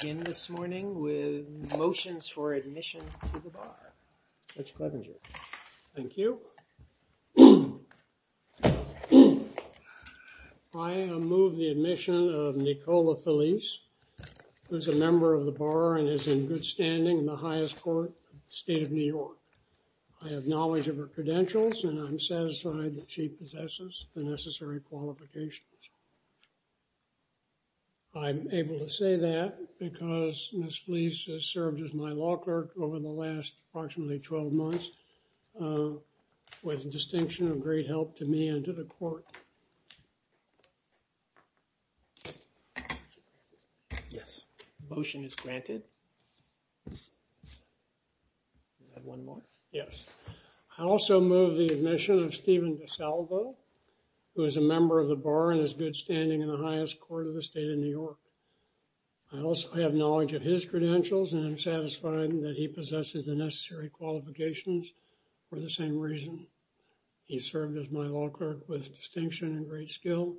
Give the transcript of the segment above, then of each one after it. I move the admission of Nicola Felice, who is a member of the Bar and is in good standing in the highest court in the state of New York. I have knowledge of her credentials and I'm satisfied that she possesses the necessary qualifications. I'm able to say that because Ms. Felice has served as my law clerk over the last approximately 12 months, with the distinction of great help to me and to the court. Yes, motion is granted. Yes, I also move the admission of Stephen DeSalvo, who is a member of the Bar and is good standing in the highest court of the state of New York. I also, I have knowledge of his credentials and I'm satisfied that he possesses the necessary qualifications for the same reason. He served as my law clerk with distinction and great skill.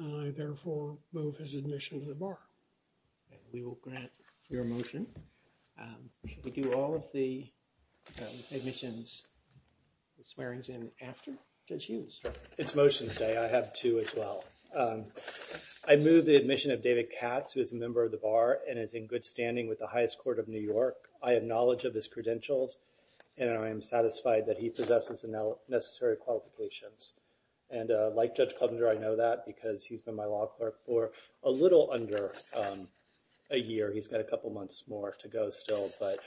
I therefore move his admission to the Bar. We will grant your motion. Should we do all of the admissions, the swearing-in after Judge Hughes? It's motions day. I have two as well. I move the admission of David Katz, who is a member of the Bar and is in good standing with the highest court of New York. I have knowledge of his credentials and I am satisfied that he possesses the necessary qualifications. And like Judge Kovner, I know that because he's been my law clerk for a little under a year. He's got a couple months more to go still, but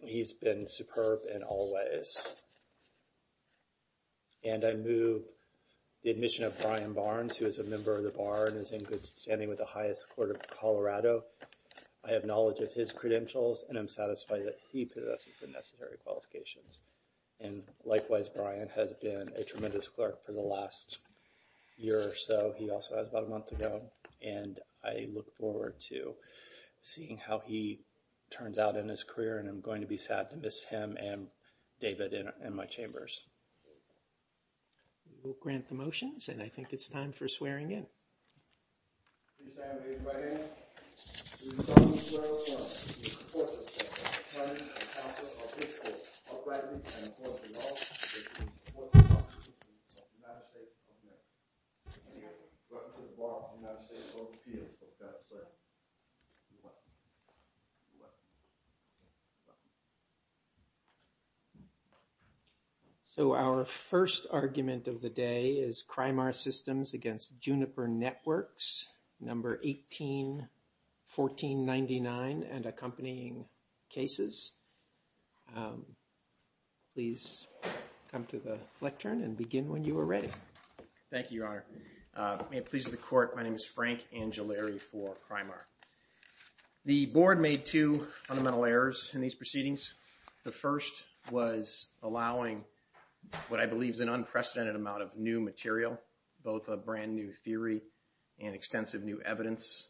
he's been superb in all ways. And I move the admission of Brian Barnes, who is a member of the Bar and is in good standing with the highest court of Colorado. I have knowledge of his credentials and I'm satisfied that he possesses the necessary qualifications. And likewise, Brian has been a tremendous clerk for the last year or so. He also has about a month to go and I look forward to seeing how he turns out in his career and I'm going to be sad to miss him and David in my chambers. We'll grant the motions and I think it's time for swearing-in. So our first argument of the day is Crimar Systems against Juniper Networks number 181499 and accompanying cases. Please come to the lectern and begin when you are ready. Thank you, Your Honor. May it please the court, my name is Frank Angellari for Crimar. The board made two fundamental errors in these proceedings. The first was allowing what I believe is an unprecedented amount of new material, both a brand new theory and extensive new evidence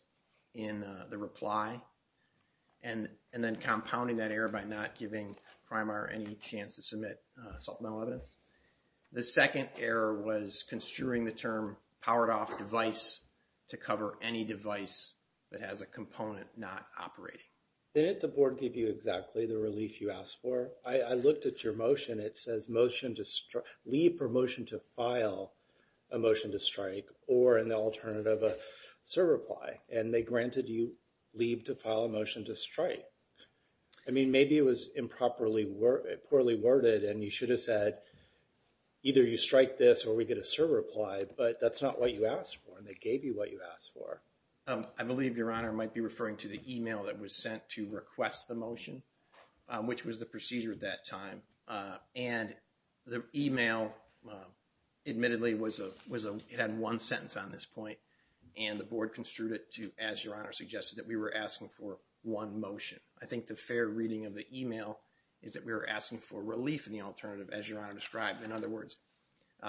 in the reply, and then compounding that error by not giving Crimar any chance to submit supplemental evidence. The second error was construing the term powered off device to cover any device that has a component not operating. Didn't the board give you exactly the relief you asked for? I looked at your motion it says leave for motion to file a motion to strike or in the alternative a server reply and they granted you leave to file a motion to strike. I mean maybe it was improperly, poorly worded and you should have said either you strike this or we get a server reply but that's not what you asked for and they gave you what you asked for. I believe Your Honor might be referring to the email that was sent to request the motion which was the procedure at that time and the email admittedly was a, it had one sentence on this point and the board construed it to as Your Honor suggested that we were asking for one motion. I think the fair reading of the email is that we were asking for relief in the alternative as Your Honor described. In other words,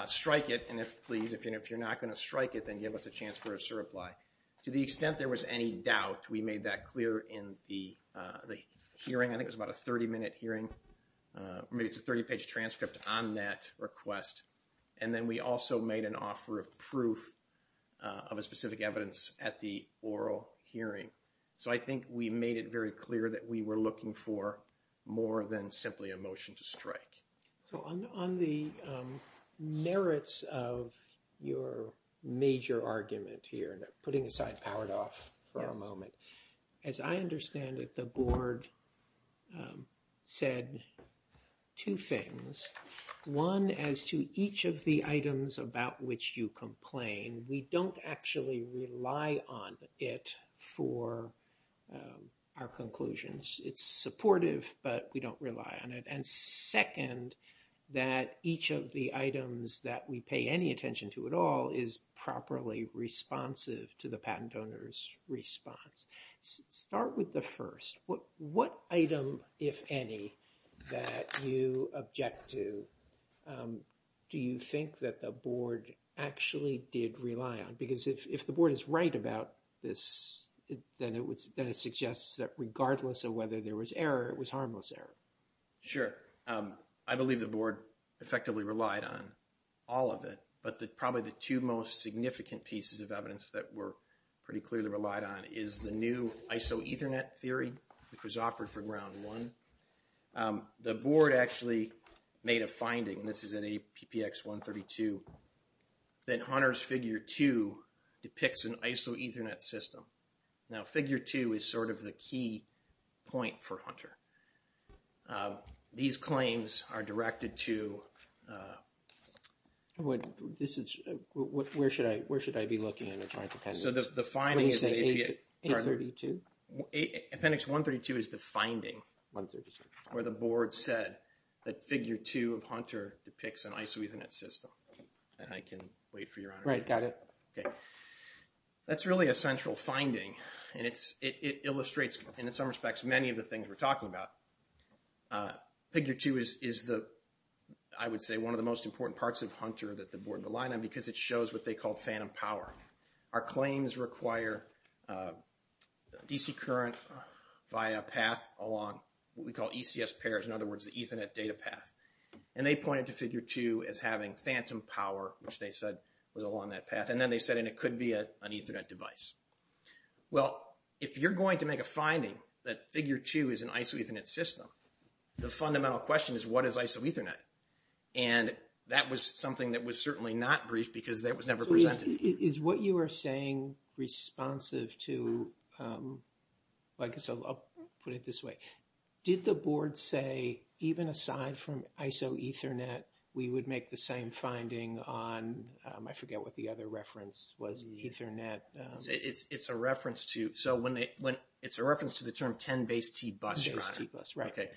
strike it and if please if you're not going to strike it then give us a chance for a server reply. To the extent there was any doubt we made that clear in the hearing. I think it was about a 30 minute hearing. I mean it's a 30 page transcript on that request and then we also made an offer of proof of a specific evidence at the oral hearing. So I think we made it very clear that we were looking for more than simply a your major argument here and putting aside Powered Off for a moment. As I understand it, the board said two things. One, as to each of the items about which you complain, we don't actually rely on it for our conclusions. It's supportive but we don't rely on it and second, that each of the items that we pay any attention to at all is properly responsive to the patent owner's response. Start with the first. What item, if any, that you object to do you think that the board actually did rely on? Because if the board is right about this then it suggests that regardless of whether there was error, it was probably the two most significant pieces of evidence that were pretty clearly relied on is the new ISO Ethernet theory, which was offered for round one. The board actually made a finding, and this is in APX 132, that Hunter's figure 2 depicts an ISO Ethernet system. Now figure 2 is sort of the key point for Hunter. These claims are directed to... This is, where should I where should I be looking in the Joint Appendix? So the finding is APX 132 is the finding where the board said that figure 2 of Hunter depicts an ISO Ethernet system. And I can wait for your honor. Right, got it. Okay, that's really a central finding and it illustrates, in some respects, many of the things we're talking about. Figure 2 is the, I would say, one of the most important parts of Hunter that the board relied on because it shows what they called phantom power. Our claims require DC current via a path along what we call ECS pairs, in other words the Ethernet data path. And they pointed to figure 2 as having phantom power, which they said was along that path. And then they said it could be an ISO Ethernet system. Well, if you're going to make a finding that figure 2 is an ISO Ethernet system, the fundamental question is what is ISO Ethernet? And that was something that was certainly not briefed because that was never presented. Is what you are saying responsive to, like, so I'll put it this way. Did the board say, even aside from ISO Ethernet, we would make the same finding on, I forget what the other reference was, the Ethernet. It's a reference to, so when they, it's a reference to the term 10BASE-T bus. 10BASE-T bus, right. Okay,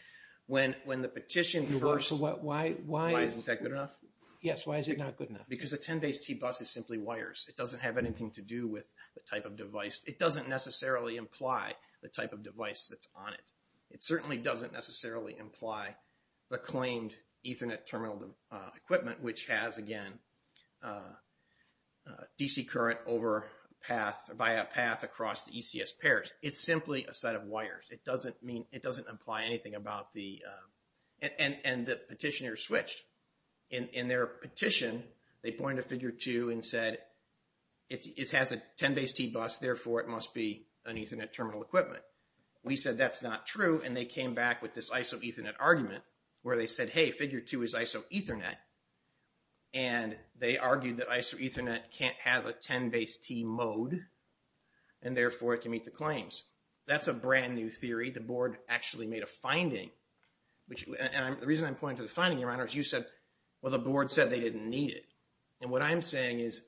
when the petition first. Why isn't that good enough? Yes, why is it not good enough? Because the 10BASE-T bus is simply wires. It doesn't have anything to do with the type of device. It doesn't necessarily imply the type of device that's on it. It certainly doesn't necessarily imply the device that has, again, DC current over path, via path across the ECS pairs. It's simply a set of wires. It doesn't mean, it doesn't imply anything about the, and the petitioner switched. In their petition, they pointed to figure 2 and said it has a 10BASE-T bus, therefore it must be an Ethernet terminal equipment. We said that's not true, and they came back with this ISO Ethernet argument, where they said, hey, figure 2 is ISO Ethernet, and they argued that ISO Ethernet can't have a 10BASE-T mode, and therefore it can meet the claims. That's a brand new theory. The board actually made a finding, which, and the reason I'm pointing to the finding, Your Honor, is you said, well, the board said they didn't need it, and what I'm saying is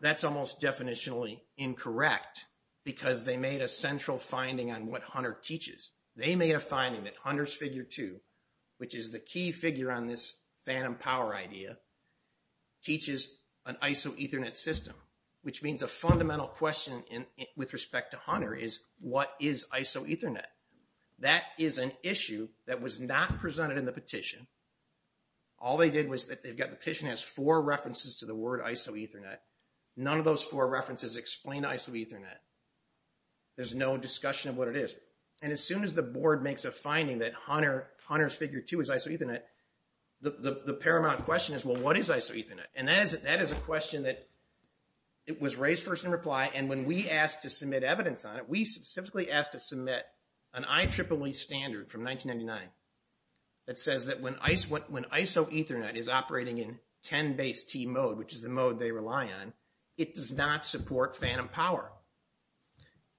that's almost definitionally incorrect, because they made a central finding on what Hunter teaches. They made a finding that Hunter's figure 2, which is the key figure on this phantom power idea, teaches an ISO Ethernet system, which means a fundamental question with respect to Hunter is, what is ISO Ethernet? That is an issue that was not presented in the petition. All they did was that they've got, the petition has four references to the word ISO Ethernet. None of those four references explain ISO Ethernet. There's no discussion of what it is, and as soon as the board makes a finding that Hunter's figure 2 is ISO Ethernet, the paramount question is, well, what is ISO Ethernet? And that is a question that was raised first in reply, and when we asked to submit evidence on it, we specifically asked to submit an IEEE standard from 1999 that says that when ISO Ethernet is operating in 10BASE-T mode, which is the phantom power,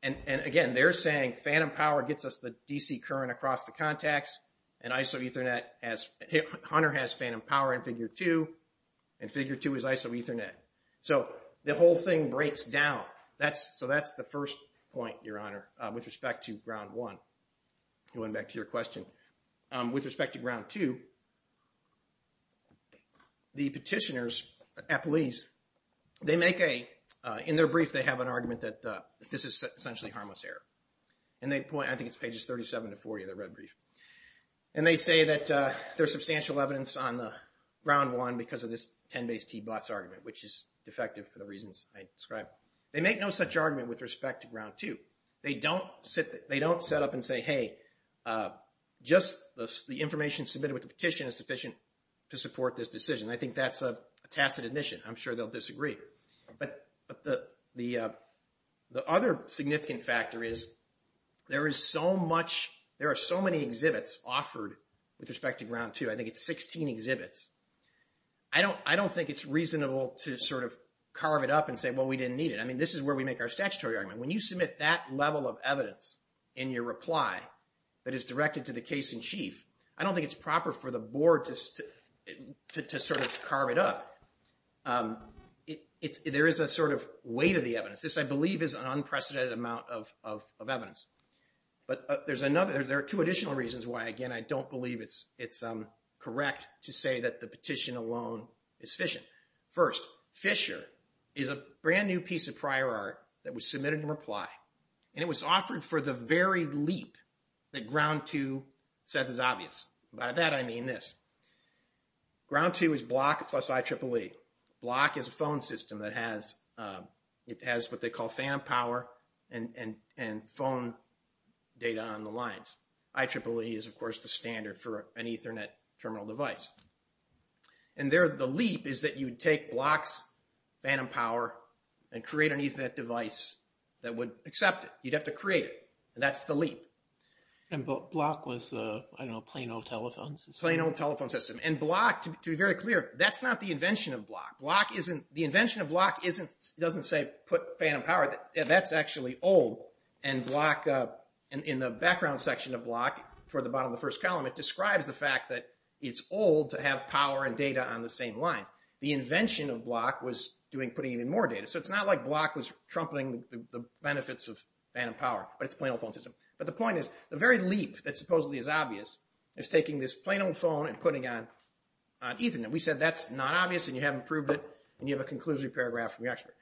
and again, they're saying phantom power gets us the DC current across the contacts, and ISO Ethernet has, Hunter has phantom power in figure 2, and figure 2 is ISO Ethernet. So the whole thing breaks down. That's, so that's the first point, Your Honor, with respect to ground 1. Going back to your question, with respect to ground 2, the petitioners at police, they make a, in their brief, they have an argument that this is essentially harmless error, and they point, I think it's pages 37 to 40 of the red brief, and they say that there's substantial evidence on the ground 1 because of this 10BASE-T bots argument, which is defective for the reasons I described. They make no such argument with respect to ground 2. They don't sit, they don't set up and say, hey, just the information submitted with the petition is sufficient to support this decision. I think that's a tacit admission. I'm sure they'll disagree, but the, the other significant factor is there is so much, there are so many exhibits offered with respect to ground 2. I think it's 16 exhibits. I don't, I don't think it's reasonable to sort of carve it up and say, well, we didn't need it. I mean, this is where we make our statutory argument. When you submit that level of evidence in your reply that is directed to the case-in-chief, I don't think it's proper for the board just to sort of carve it up. There is a sort of weight of the evidence. This, I believe, is an unprecedented amount of evidence. But there's another, there are two additional reasons why, again, I don't believe it's, it's correct to say that the petition alone is sufficient. First, Fisher is a brand new piece of prior art that was submitted in reply, and it was by that I mean this. Ground 2 is BLOCK plus IEEE. BLOCK is a phone system that has, it has what they call phantom power and, and, and phone data on the lines. IEEE is, of course, the standard for an Ethernet terminal device. And there, the leap is that you would take BLOCK's phantom power and create an Ethernet device that would accept it. You'd have to create it, and that's the leap. And, but, BLOCK was, I don't know, a plain old telephone system. Plain old telephone system. And BLOCK, to be very clear, that's not the invention of BLOCK. BLOCK isn't, the invention of BLOCK isn't, doesn't say put phantom power, that's actually old. And BLOCK, in the background section of BLOCK, toward the bottom of the first column, it describes the fact that it's old to have power and data on the same lines. The invention of BLOCK was doing, putting in more data. So it's not like BLOCK was trumpeting the benefits of phantom power, but it's a plain old phone system. But the point is, the very leap that supposedly is obvious is taking this plain old phone and putting on Ethernet. We said that's not obvious and you haven't proved it, and you have a conclusory paragraph from your expert.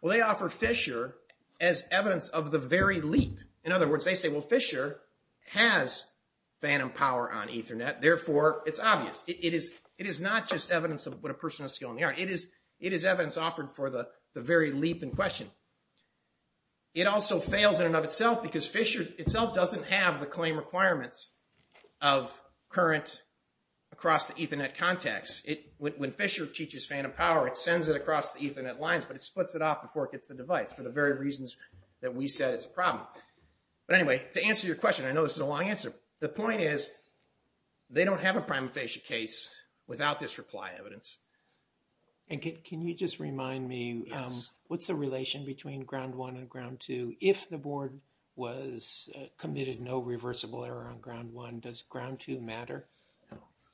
Well, they offer Fisher as evidence of the very leap. In other words, they say, well, Fisher has phantom power on Ethernet, therefore it's obvious. It is, it is not just evidence of what a person has skilled in the art. It is, it is evidence offered for the claim requirements of current, across the Ethernet contacts. When Fisher teaches phantom power, it sends it across the Ethernet lines, but it splits it off before it gets the device, for the very reasons that we said it's a problem. But anyway, to answer your question, I know this is a long answer. The point is, they don't have a prima facie case without this reply evidence. And can you just remind me, what's the relation between ground one and ground two, if the board was, committed no reversible error on ground one, does ground two matter?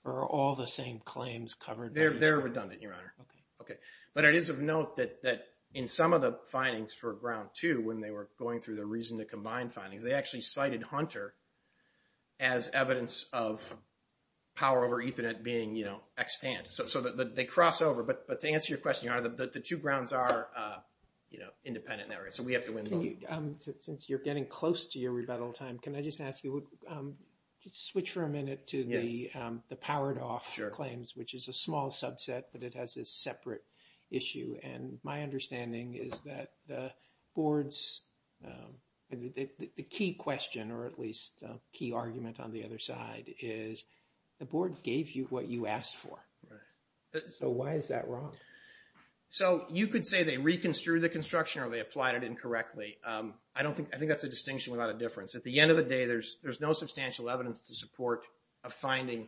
Are all the same claims covered? They're, they're redundant, your honor. Okay. But it is of note that, that in some of the findings for ground two, when they were going through the reason to combine findings, they actually cited Hunter as evidence of power over Ethernet being, you know, extant. So, so that they cross over. But, but to answer your question, your honor, the two grounds are, you have to win both. Can you, since you're getting close to your rebuttal time, can I just ask you, just switch for a minute to the, the powered off claims, which is a small subset, but it has this separate issue. And my understanding is that the board's, the key question, or at least key argument on the other side, is the board gave you what you asked for. So why is that wrong? So you could say they reconstituted the construction or they applied it incorrectly. I don't think, I think that's a distinction without a difference. At the end of the day, there's, there's no substantial evidence to support a finding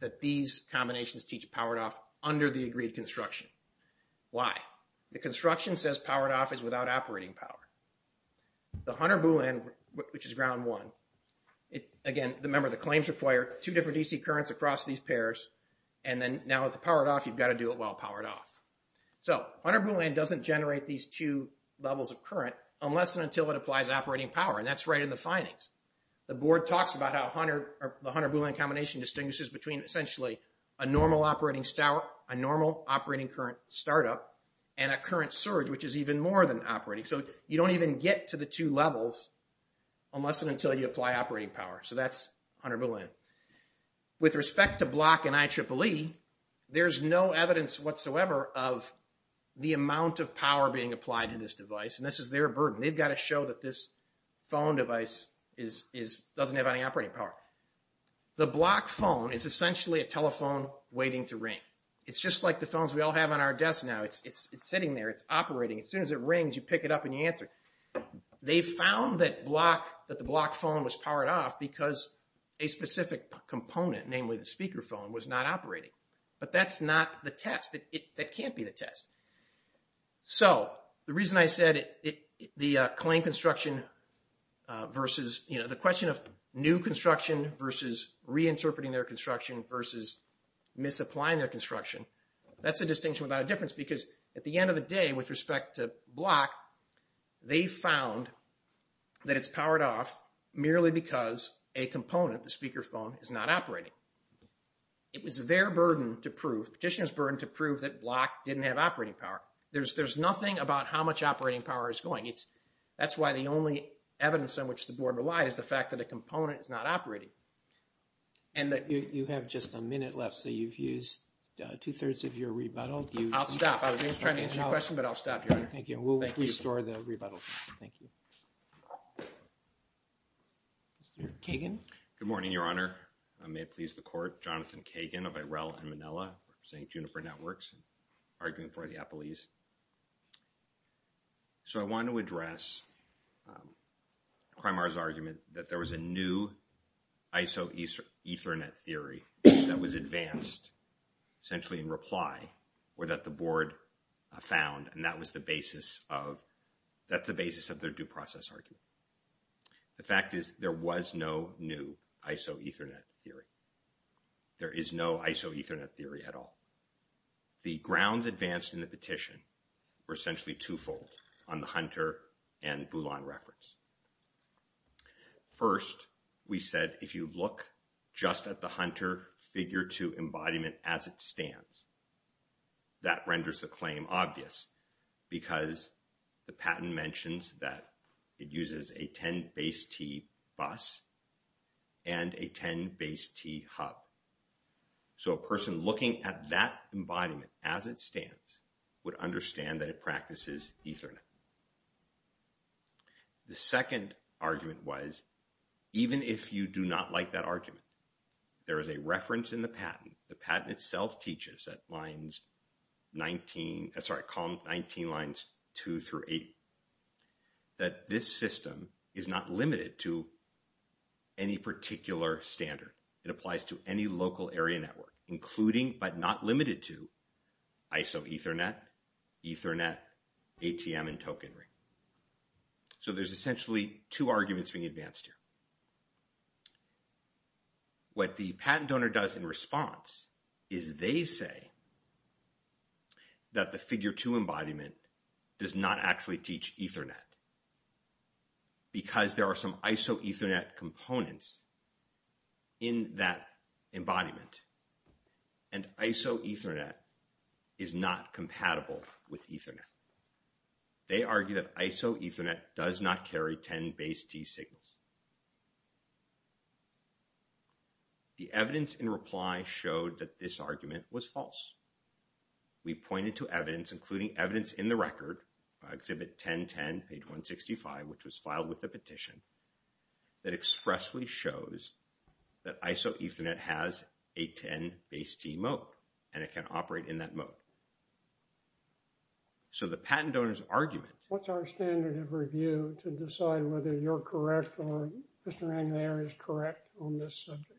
that these combinations teach powered off under the agreed construction. Why? The construction says powered off is without operating power. The Hunter Boolean, which is ground one, it, again, the member of the claims required, two different DC currents across these pairs. And then now with the powered off, you've got to do it while powered off. So Hunter Boolean doesn't generate these two levels of current unless and until it applies operating power. And that's right in the findings. The board talks about how Hunter, the Hunter Boolean combination distinguishes between essentially a normal operating, a normal operating current startup and a current surge, which is even more than operating. So you don't even get to the two levels unless and until you apply operating power. So that's Hunter Boolean. With respect to Block and IEEE, there's no evidence whatsoever of the amount of power being applied to this device. And this is their burden. They've got to show that this phone device is, is, doesn't have any operating power. The Block phone is essentially a telephone waiting to ring. It's just like the phones we all have on our desks now. It's, it's, it's sitting there. It's operating. As soon as it rings, you pick it up and you answer. They found that Block, that the Block phone was powered off because a specific component, namely the speakerphone, was not operating. But that's not the test. That can't be the test. So the reason I said it, it, the claim construction versus, you know, the question of new construction versus reinterpreting their construction versus misapplying their construction, that's a distinction without a difference because at the end of the day, with respect to Block, they found that it's powered off merely because a component, the speakerphone, is not operating. It was their burden to prove, petitioner's burden to prove that Block didn't have operating power. There's, there's nothing about how much operating power is going. It's, that's why the only evidence on which the board relies is the fact that a component is not operating. And that... You, you have just a minute left. So you've used two minutes. I'm trying to answer your question, but I'll stop here. Thank you. We'll restore the rebuttal. Thank you. Mr. Kagan. Good morning, Your Honor. May it please the Court. Jonathan Kagan of Irella and Manila, St. Juniper Networks, arguing for the Apple East. So I want to address Crimar's argument that there was a new ISO Ethernet theory that was advanced, essentially in reply, or that the board found, and that was the basis of, that's the basis of their due process argument. The fact is there was no new ISO Ethernet theory. There is no ISO Ethernet theory at all. The grounds advanced in the petition were essentially twofold on the Hunter and Boulan reference. First, we said, if you look just at the Hunter figure two embodiment as it stands, that renders the claim obvious, because the patent mentions that it uses a 10-base-T bus and a 10-base-T hub. So a person looking at that embodiment as it stands would understand that it practices Ethernet. The second argument was, even if you do not like that argument, there is a reference in the patent. The patent itself teaches at lines 19, sorry, column 19, lines 2 through 8, that this system is not limited to any particular standard. It applies to any local area network, including, but not limited to, ISO Ethernet, Ethernet, ATM, and token rate. So there's essentially two arguments being advanced here. What the patent donor does in response is they say that the figure two embodiment does not actually teach Ethernet, because there are some ISO Ethernet components in that embodiment. And ISO Ethernet is not compatible with Ethernet. They argue that ISO Ethernet does not carry 10-base-T signals. The evidence in reply showed that this argument was false. We pointed to evidence, including evidence in the record, Exhibit 1010, page 165, which was filed with the petition, that expressly shows that ISO Ethernet has a 10-base-T mode, and it can operate in that mode. So the patent donor's argument... What's our standard of review to decide whether you're correct or Mr. Anglair is correct on this subject?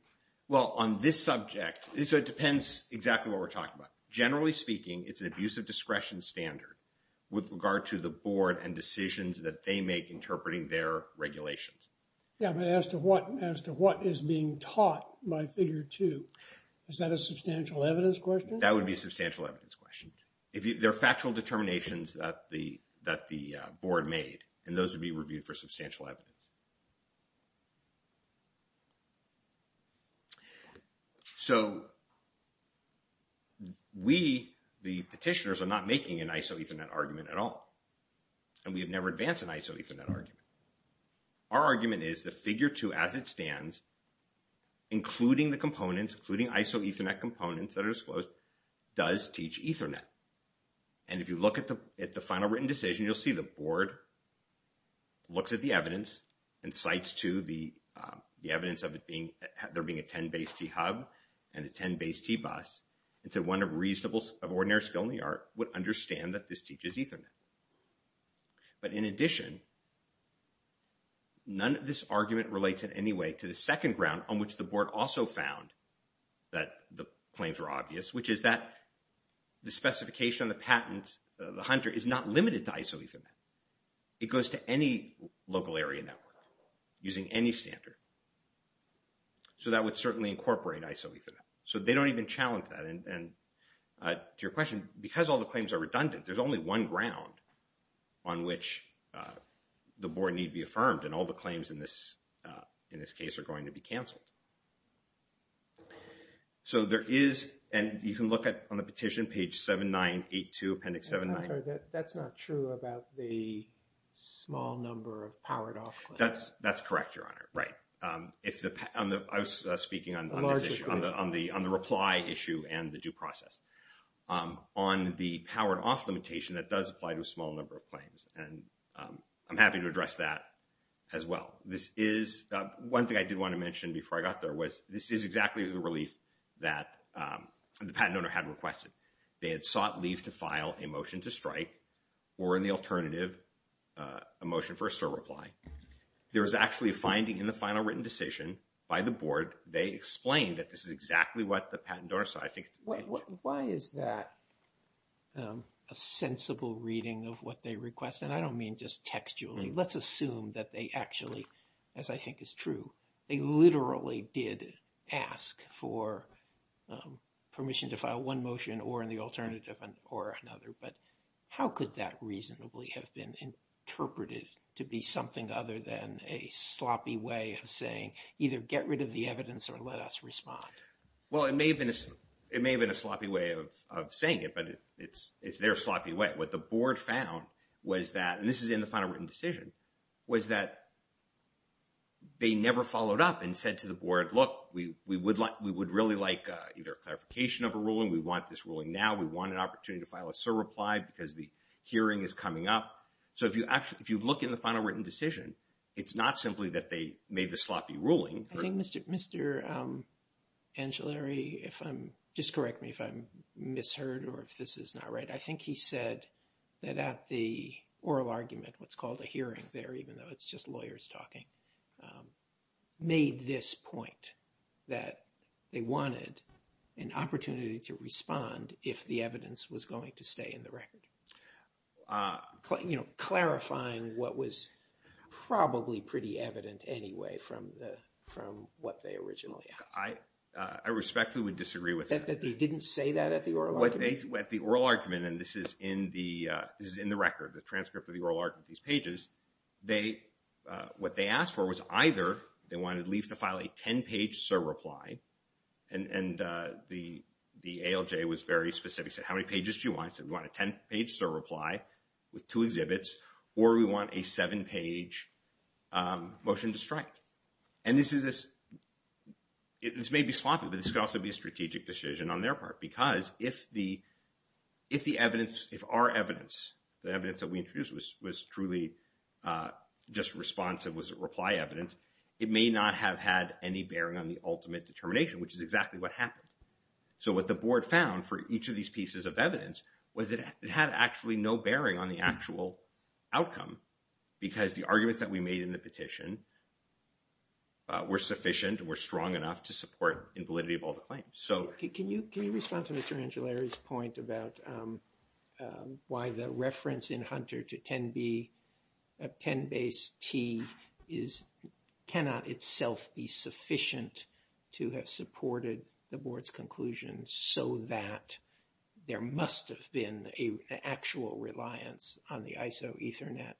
Well, on this subject, so it depends exactly what we're talking about. Generally speaking, it's an abuse of discretion standard with regard to the board and decisions that they make interpreting their regulations. Yeah, but as to what is being taught by figure two, is that a substantial evidence question? That would be a substantial evidence question. They're factual determinations that the board made, and those would be reviewed for substantial evidence. So we, the petitioners, are not making an ISO Ethernet argument at all. And we have never advanced an ISO Ethernet argument. Our argument is that figure two, as it stands, including the components, including ISO Ethernet components that are disclosed, does teach Ethernet. And if you look at the final written decision, you'll see the board looks at the evidence and cites to the evidence of it being... There being a 10-base-T hub and a 10-base-T bus. It's a one of reasonable... Of ordinary skill in the art would understand that this teaches Ethernet. But in addition, none of this argument relates in any way to the second ground on which the board also found that the claims were obvious, which is that the specification on the patent, the Hunter, is not limited to ISO Ethernet. It goes to any local area network using any standard. So that would certainly incorporate ISO Ethernet. So they don't even challenge that. And to your question, because all the claims are redundant, there's only one ground on which the board need be affirmed. And all the claims in this case are going to be canceled. So there is... And you can look at, on the petition, page 7982, appendix 7... I'm sorry. That's not true about the small number of powered-off claims. That's correct, Your Honor. Right. I was speaking on the reply issue and the due process. On the powered-off limitation, that does apply to a small number of claims. And I'm happy to address that as well. This is... One thing I did want to mention before I got there was this is exactly the relief that the patent owner had requested. They had sought leave to file a motion to strike or, in the alternative, a motion for a surreply. There was actually a finding in the final written decision by the board. They explained that this is exactly what the patent owner said. Why is that a sensible reading of what they request? And I don't mean just textually. Let's assume that they actually, as I think is true, they literally did ask for permission to file one motion or in the alternative or another. But how could that reasonably have been interpreted to be something other than a sloppy way of saying either get rid of the evidence or let us respond? Well, it may have been a sloppy way of saying it, but it's their sloppy way. What the board found was that, and this is in the final written decision, was that they never followed up and said to the board, look, we would really like either a clarification of a ruling. We want this ruling now. We want an opportunity to file a surreply because the hearing is coming up. So if you look in the final written decision, it's not simply that they made the sloppy ruling. I think Mr. Angellari, if I'm, just correct me if I'm misheard or if this is not right. I think he said that at the oral argument, what's called a hearing there, even though it's just lawyers talking, made this point that they wanted an opportunity to respond if the evidence was going to stay in the record. But, you know, clarifying what was probably pretty evident anyway from the, from what they originally asked. I respectfully would disagree with that. That they didn't say that at the oral argument? At the oral argument, and this is in the, this is in the record, the transcript of the oral argument, these pages, they, what they asked for was either they wanted Leaf to file a 10-page surreply, and the ALJ was very specific, said how many pages do you want? We want a 10-page surreply with two exhibits, or we want a seven-page motion to strike. And this is, this may be sloppy, but this could also be a strategic decision on their part. Because if the, if the evidence, if our evidence, the evidence that we introduced was truly just responsive, was reply evidence, it may not have had any bearing on the ultimate determination, which is exactly what happened. So what the board found for each of these pieces of evidence was that it had actually no bearing on the actual outcome, because the arguments that we made in the petition were sufficient, were strong enough to support invalidity of all the claims. So can you, can you respond to Mr. Angelari's point about why the reference in Hunter to so that there must have been an actual reliance on the ISO Ethernet,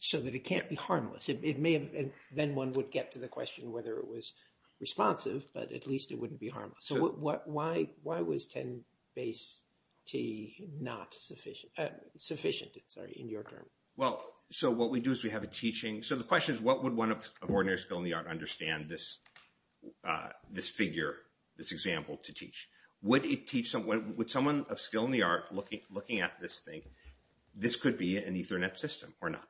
so that it can't be harmless? It may have, and then one would get to the question whether it was responsive, but at least it wouldn't be harmless. So what, why, why was 10-base-T not sufficient, sufficient, sorry, in your term? Well, so what we do is we have a teaching, so the question is what would one of ordinary skill in the art understand this, this figure, this example to teach? Would it teach someone, would someone of skill in the art looking at this thing, this could be an Ethernet system or not?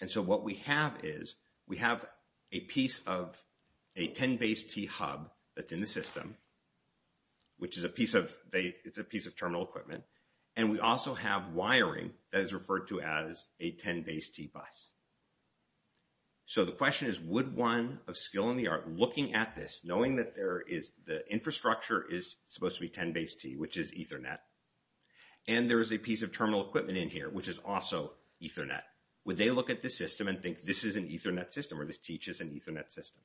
And so what we have is, we have a piece of a 10-base-T hub that's in the system, which is a piece of, it's a piece of terminal equipment, and we also have wiring that is referred to as a 10-base-T bus. So the question is, would one of skill in the art looking at this, knowing that there is the infrastructure is supposed to be 10-base-T, which is Ethernet, and there is a piece of terminal equipment in here, which is also Ethernet, would they look at the system and think this is an Ethernet system, or this teaches an Ethernet system?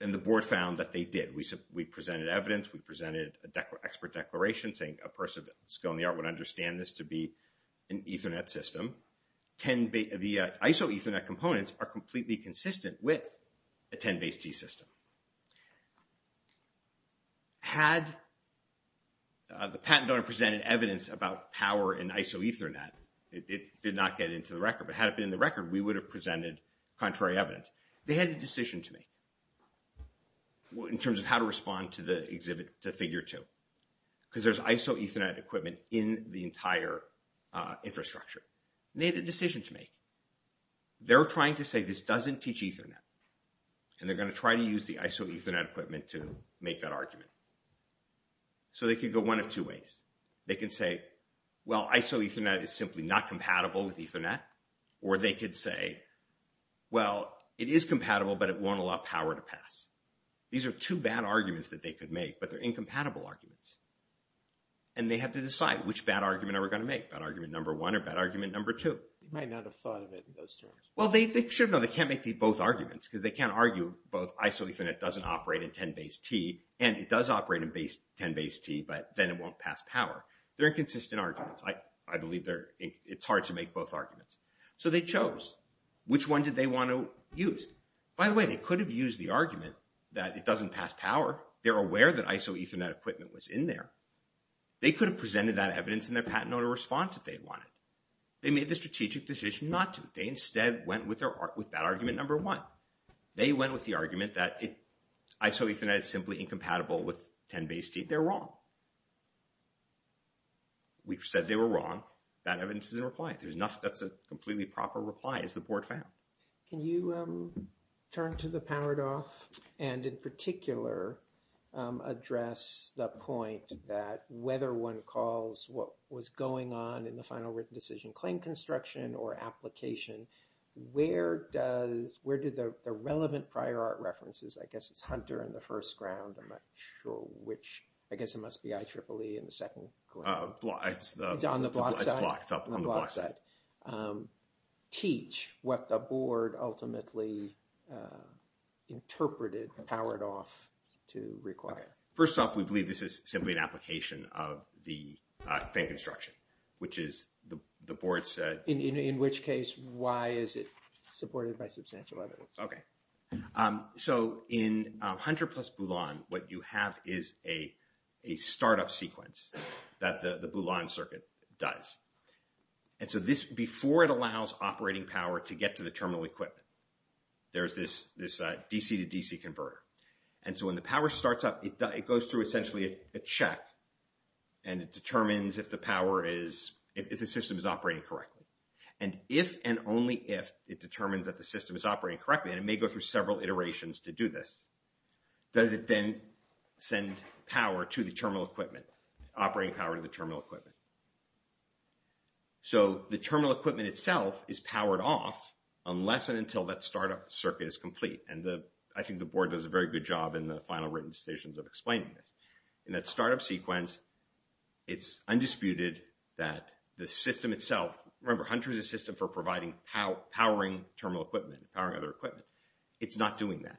And the board found that they did, we presented evidence, we presented an expert declaration saying a person of skill in the art would understand this to be an Ethernet system, 10-base, the IsoEthernet components are completely consistent with a 10-base-T system. Had the patent owner presented evidence about power in IsoEthernet, it did not get into the record, but had it been in the record, we would have presented contrary evidence. They had a decision to make in terms of how to respond to the exhibit, to figure two, because there's IsoEthernet equipment in the entire infrastructure. They had a decision to make. They're trying to say this doesn't teach Ethernet, and they're going to try to use the IsoEthernet equipment to make that argument. So they could go one of two ways. They can say, well, IsoEthernet is simply not compatible with Ethernet, or they could say, well, it is compatible, but it won't allow power to pass. These are two bad arguments that they could make, but they're incompatible arguments. And they have to decide which bad argument are we going to make, bad argument number one or bad argument number two. You might not have thought of it in those terms. Well, they should have known. They can't make both arguments, because they can't argue both IsoEthernet doesn't operate in 10BASE-T, and it does operate in 10BASE-T, but then it won't pass power. They're inconsistent arguments. I believe it's hard to make both arguments. So they chose. Which one did they want to use? By the way, they could have used the argument that it doesn't pass power. They're aware that IsoEthernet equipment was in there. They could have presented that evidence in their patent order response if they wanted. They made the strategic decision not to. They instead went with that argument number one. They went with the argument that IsoEthernet is simply incompatible with 10BASE-T. They're wrong. We've said they were wrong. Bad evidence is in reply. There's nothing that's a completely proper reply, as the board found. Can you turn to the Powered Off and, in particular, address the point that whether one calls what was going on in the final written decision claim construction or application, where do the relevant prior art references, I guess it's Hunter in the first ground, I'm not sure which. I guess it must be IEEE in the second. It's on the block side? It's blocked up on the block side. Can you teach what the board ultimately interpreted Powered Off to require? First off, we believe this is simply an application of the claim construction, which is the board said. In which case, why is it supported by substantial evidence? So in Hunter plus Boulogne, what you have is a startup sequence that the Boulogne circuit does. And so before it allows operating power to get to the terminal equipment, there's this DC to DC converter. And so when the power starts up, it goes through essentially a check. And it determines if the system is operating correctly. And if and only if it determines that the system is operating correctly, and it may go through several iterations to do this, does it then send power to the terminal equipment, operating power to the terminal equipment? So the terminal equipment itself is powered off unless and until that startup circuit is complete. And I think the board does a very good job in the final written decisions of explaining this. In that startup sequence, it's undisputed that the system itself, remember, Hunter is a system for providing powering terminal equipment, powering other equipment. It's not doing that.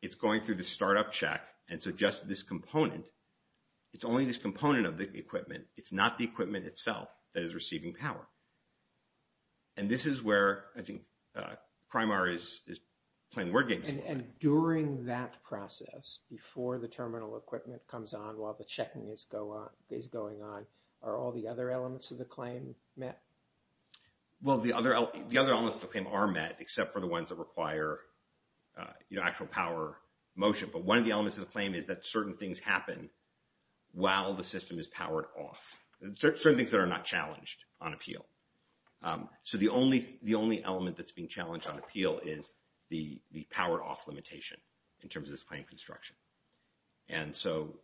It's going through the startup check. And so just this component, it's only this component of the equipment. It's not the equipment itself that is receiving power. And this is where I think Primar is playing word games. And during that process, before the terminal equipment comes on, while the checking is going on, are all the other elements of the claim met? Well, the other elements of the claim are met, except for the ones that require actual power motion. But one of the elements of the claim is that certain things happen while the system is powered off. Certain things that are not challenged on appeal. So the only element that's being challenged on appeal is the power off limitation in terms of this claim construction. And so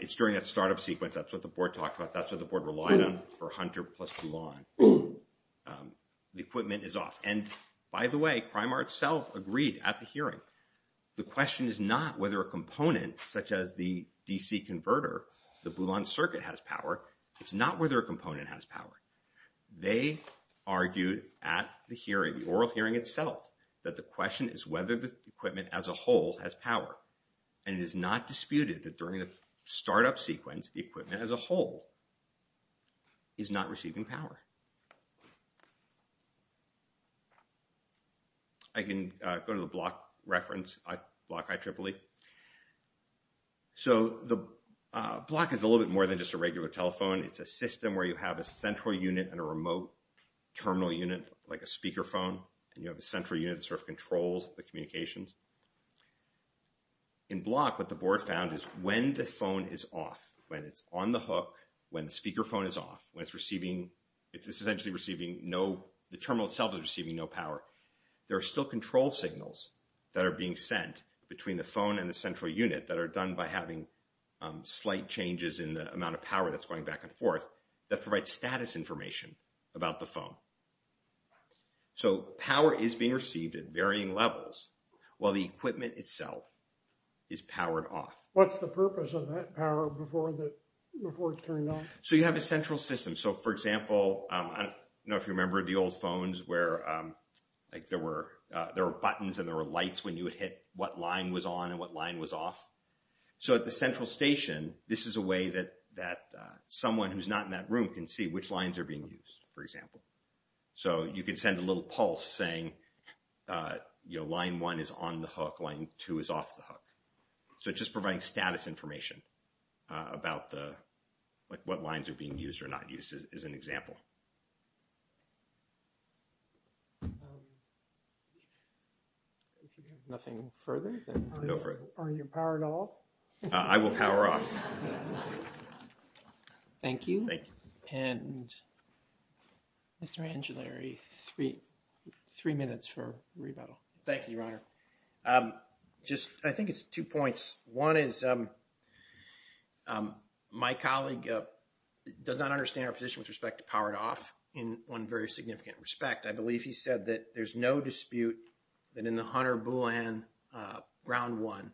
it's during that startup sequence. That's what the board talked about. That's what the board relied on for Hunter plus Mulan. The equipment is off. And by the way, Primar itself agreed at the hearing. The question is not whether a component such as the DC converter, the Mulan circuit has power. It's not whether a component has power. They argued at the hearing, the oral hearing itself, that the question is whether the equipment as a whole has power. And it is not disputed that during the startup sequence, the equipment as a whole is not receiving power. I can go to the block reference, block IEEE. So the block is a little bit more than just a regular telephone. It's a system where you have a central unit and a remote terminal unit, like a speakerphone. And you have a central unit that sort of controls the communications. In block, what the board found is when the phone is off, when it's on the hook, when the speakerphone is off, when it's receiving its power, it's essentially receiving no... The terminal itself is receiving no power. There are still control signals that are being sent between the phone and the central unit that are done by having slight changes in the amount of power that's going back and forth that provides status information about the phone. So power is being received at varying levels while the equipment itself is powered off. What's the purpose of that power before it's turned on? So you have a central system. For example, I don't know if you remember the old phones where there were buttons and there were lights when you would hit what line was on and what line was off. So at the central station, this is a way that someone who's not in that room can see which lines are being used, for example. So you can send a little pulse saying, line one is on the hook, line two is off the hook. So it just provides status information about what lines are being used or not used as an example. If you have nothing further, then go for it. Are you powered off? I will power off. Thank you. And Mr. Angiolari, three minutes for rebuttal. Thank you, Your Honor. Just, I think it's two points. One is my colleague does not understand our position with respect to powered off in one very significant respect. I believe he said that there's no dispute that in the Hunter BlueLand ground one,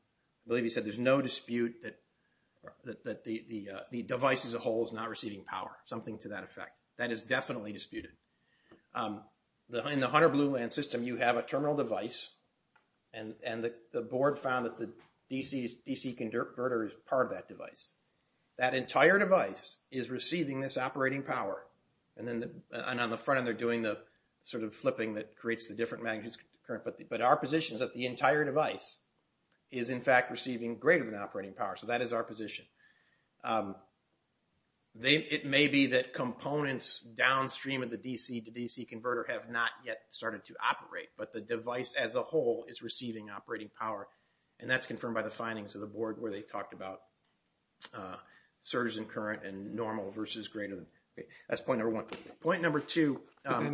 I believe he said there's no dispute that the device as a whole is not receiving power, something to that effect. That is definitely disputed. In the Hunter BlueLand system, you have a terminal device and the board found that the DC converter is part of that device. That entire device is receiving this operating power and then on the front end, they're doing the sort of flipping that creates the different magnitude current. But our position is that the entire device is in fact receiving greater than operating power. So that is our position. It may be that components downstream of the DC converter have not yet started to operate, but the device as a whole is receiving operating power. And that's confirmed by the findings of the board where they talked about surge in current and normal versus greater than. That's point number one. Point number two. But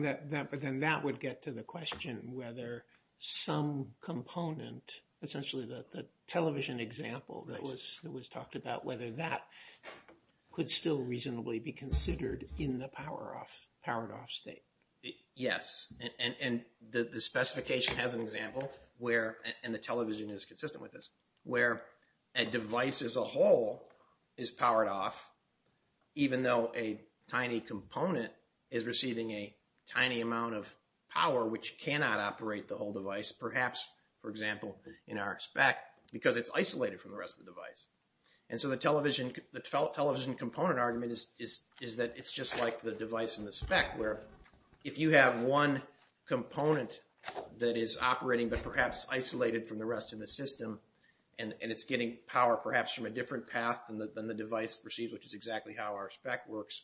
then that would get to the question whether some component, essentially the television example that was talked about, whether that could still reasonably be considered in the powered off state. Yes, and the specification has an example where, and the television is consistent with this, where a device as a whole is powered off even though a tiny component is receiving a tiny amount of power which cannot operate the whole device. Perhaps, for example, in our spec because it's isolated from the rest of the device. And so the television component argument is that it's just like the device in the spec where if you have one component that is operating, but perhaps isolated from the rest of the system and it's getting power perhaps from a different path than the device receives, which is exactly how our spec works,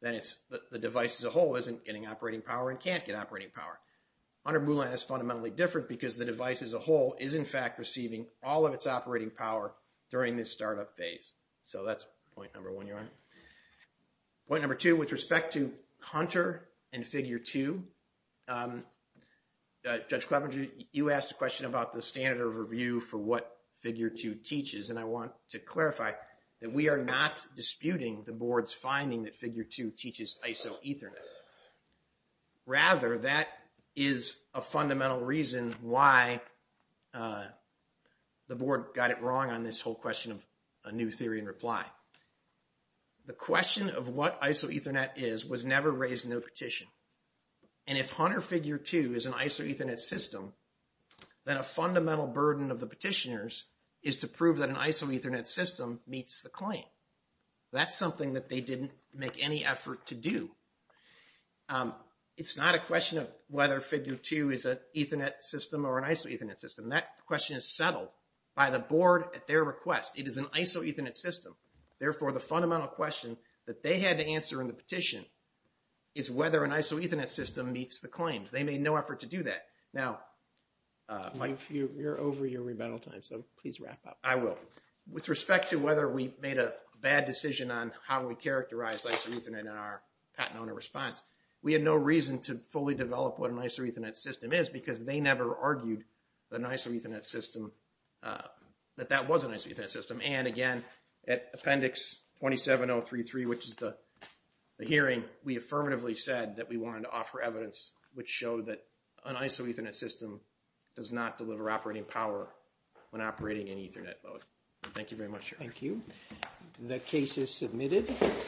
then it's the device as a whole isn't getting operating power and can't get operating power. Hunter-Mulan is fundamentally different because the device as a whole is in fact receiving all of its operating power during this startup phase. So that's point number one. Point number two, with respect to Hunter and Figure 2, Judge Clever, you asked a question about the standard of review for what Figure 2 teaches. And I want to clarify that we are not disputing the board's finding that Figure 2 teaches ISO Ethernet. Rather, that is a fundamental reason why the board got it wrong on this whole question of a new theory and reply. The question of what ISO Ethernet is was never raised in the petition. And if Hunter-Figure 2 is an ISO Ethernet system, then a fundamental burden of the petitioners is to prove that an ISO Ethernet system meets the claim. That's something that they didn't make any effort to do. It's not a question of whether Figure 2 is an Ethernet system or an ISO Ethernet system. That question is settled by the board at their request. It is an ISO Ethernet system. Therefore, the fundamental question that they had to answer in the petition is whether an ISO Ethernet system meets the claims. They made no effort to do that. Now, Mike, you're over your rebuttal time, so please wrap up. I will. With respect to whether we made a bad decision on how we characterize ISO Ethernet in our Patent Owner Response, we had no reason to fully develop what an ISO Ethernet system is because they never argued that that was an ISO Ethernet system. Again, at Appendix 27033, which is the hearing, we affirmatively said that we wanted to offer evidence which showed that an ISO Ethernet system does not deliver operating power when operating in Ethernet mode. Thank you very much. Thank you. The case is submitted.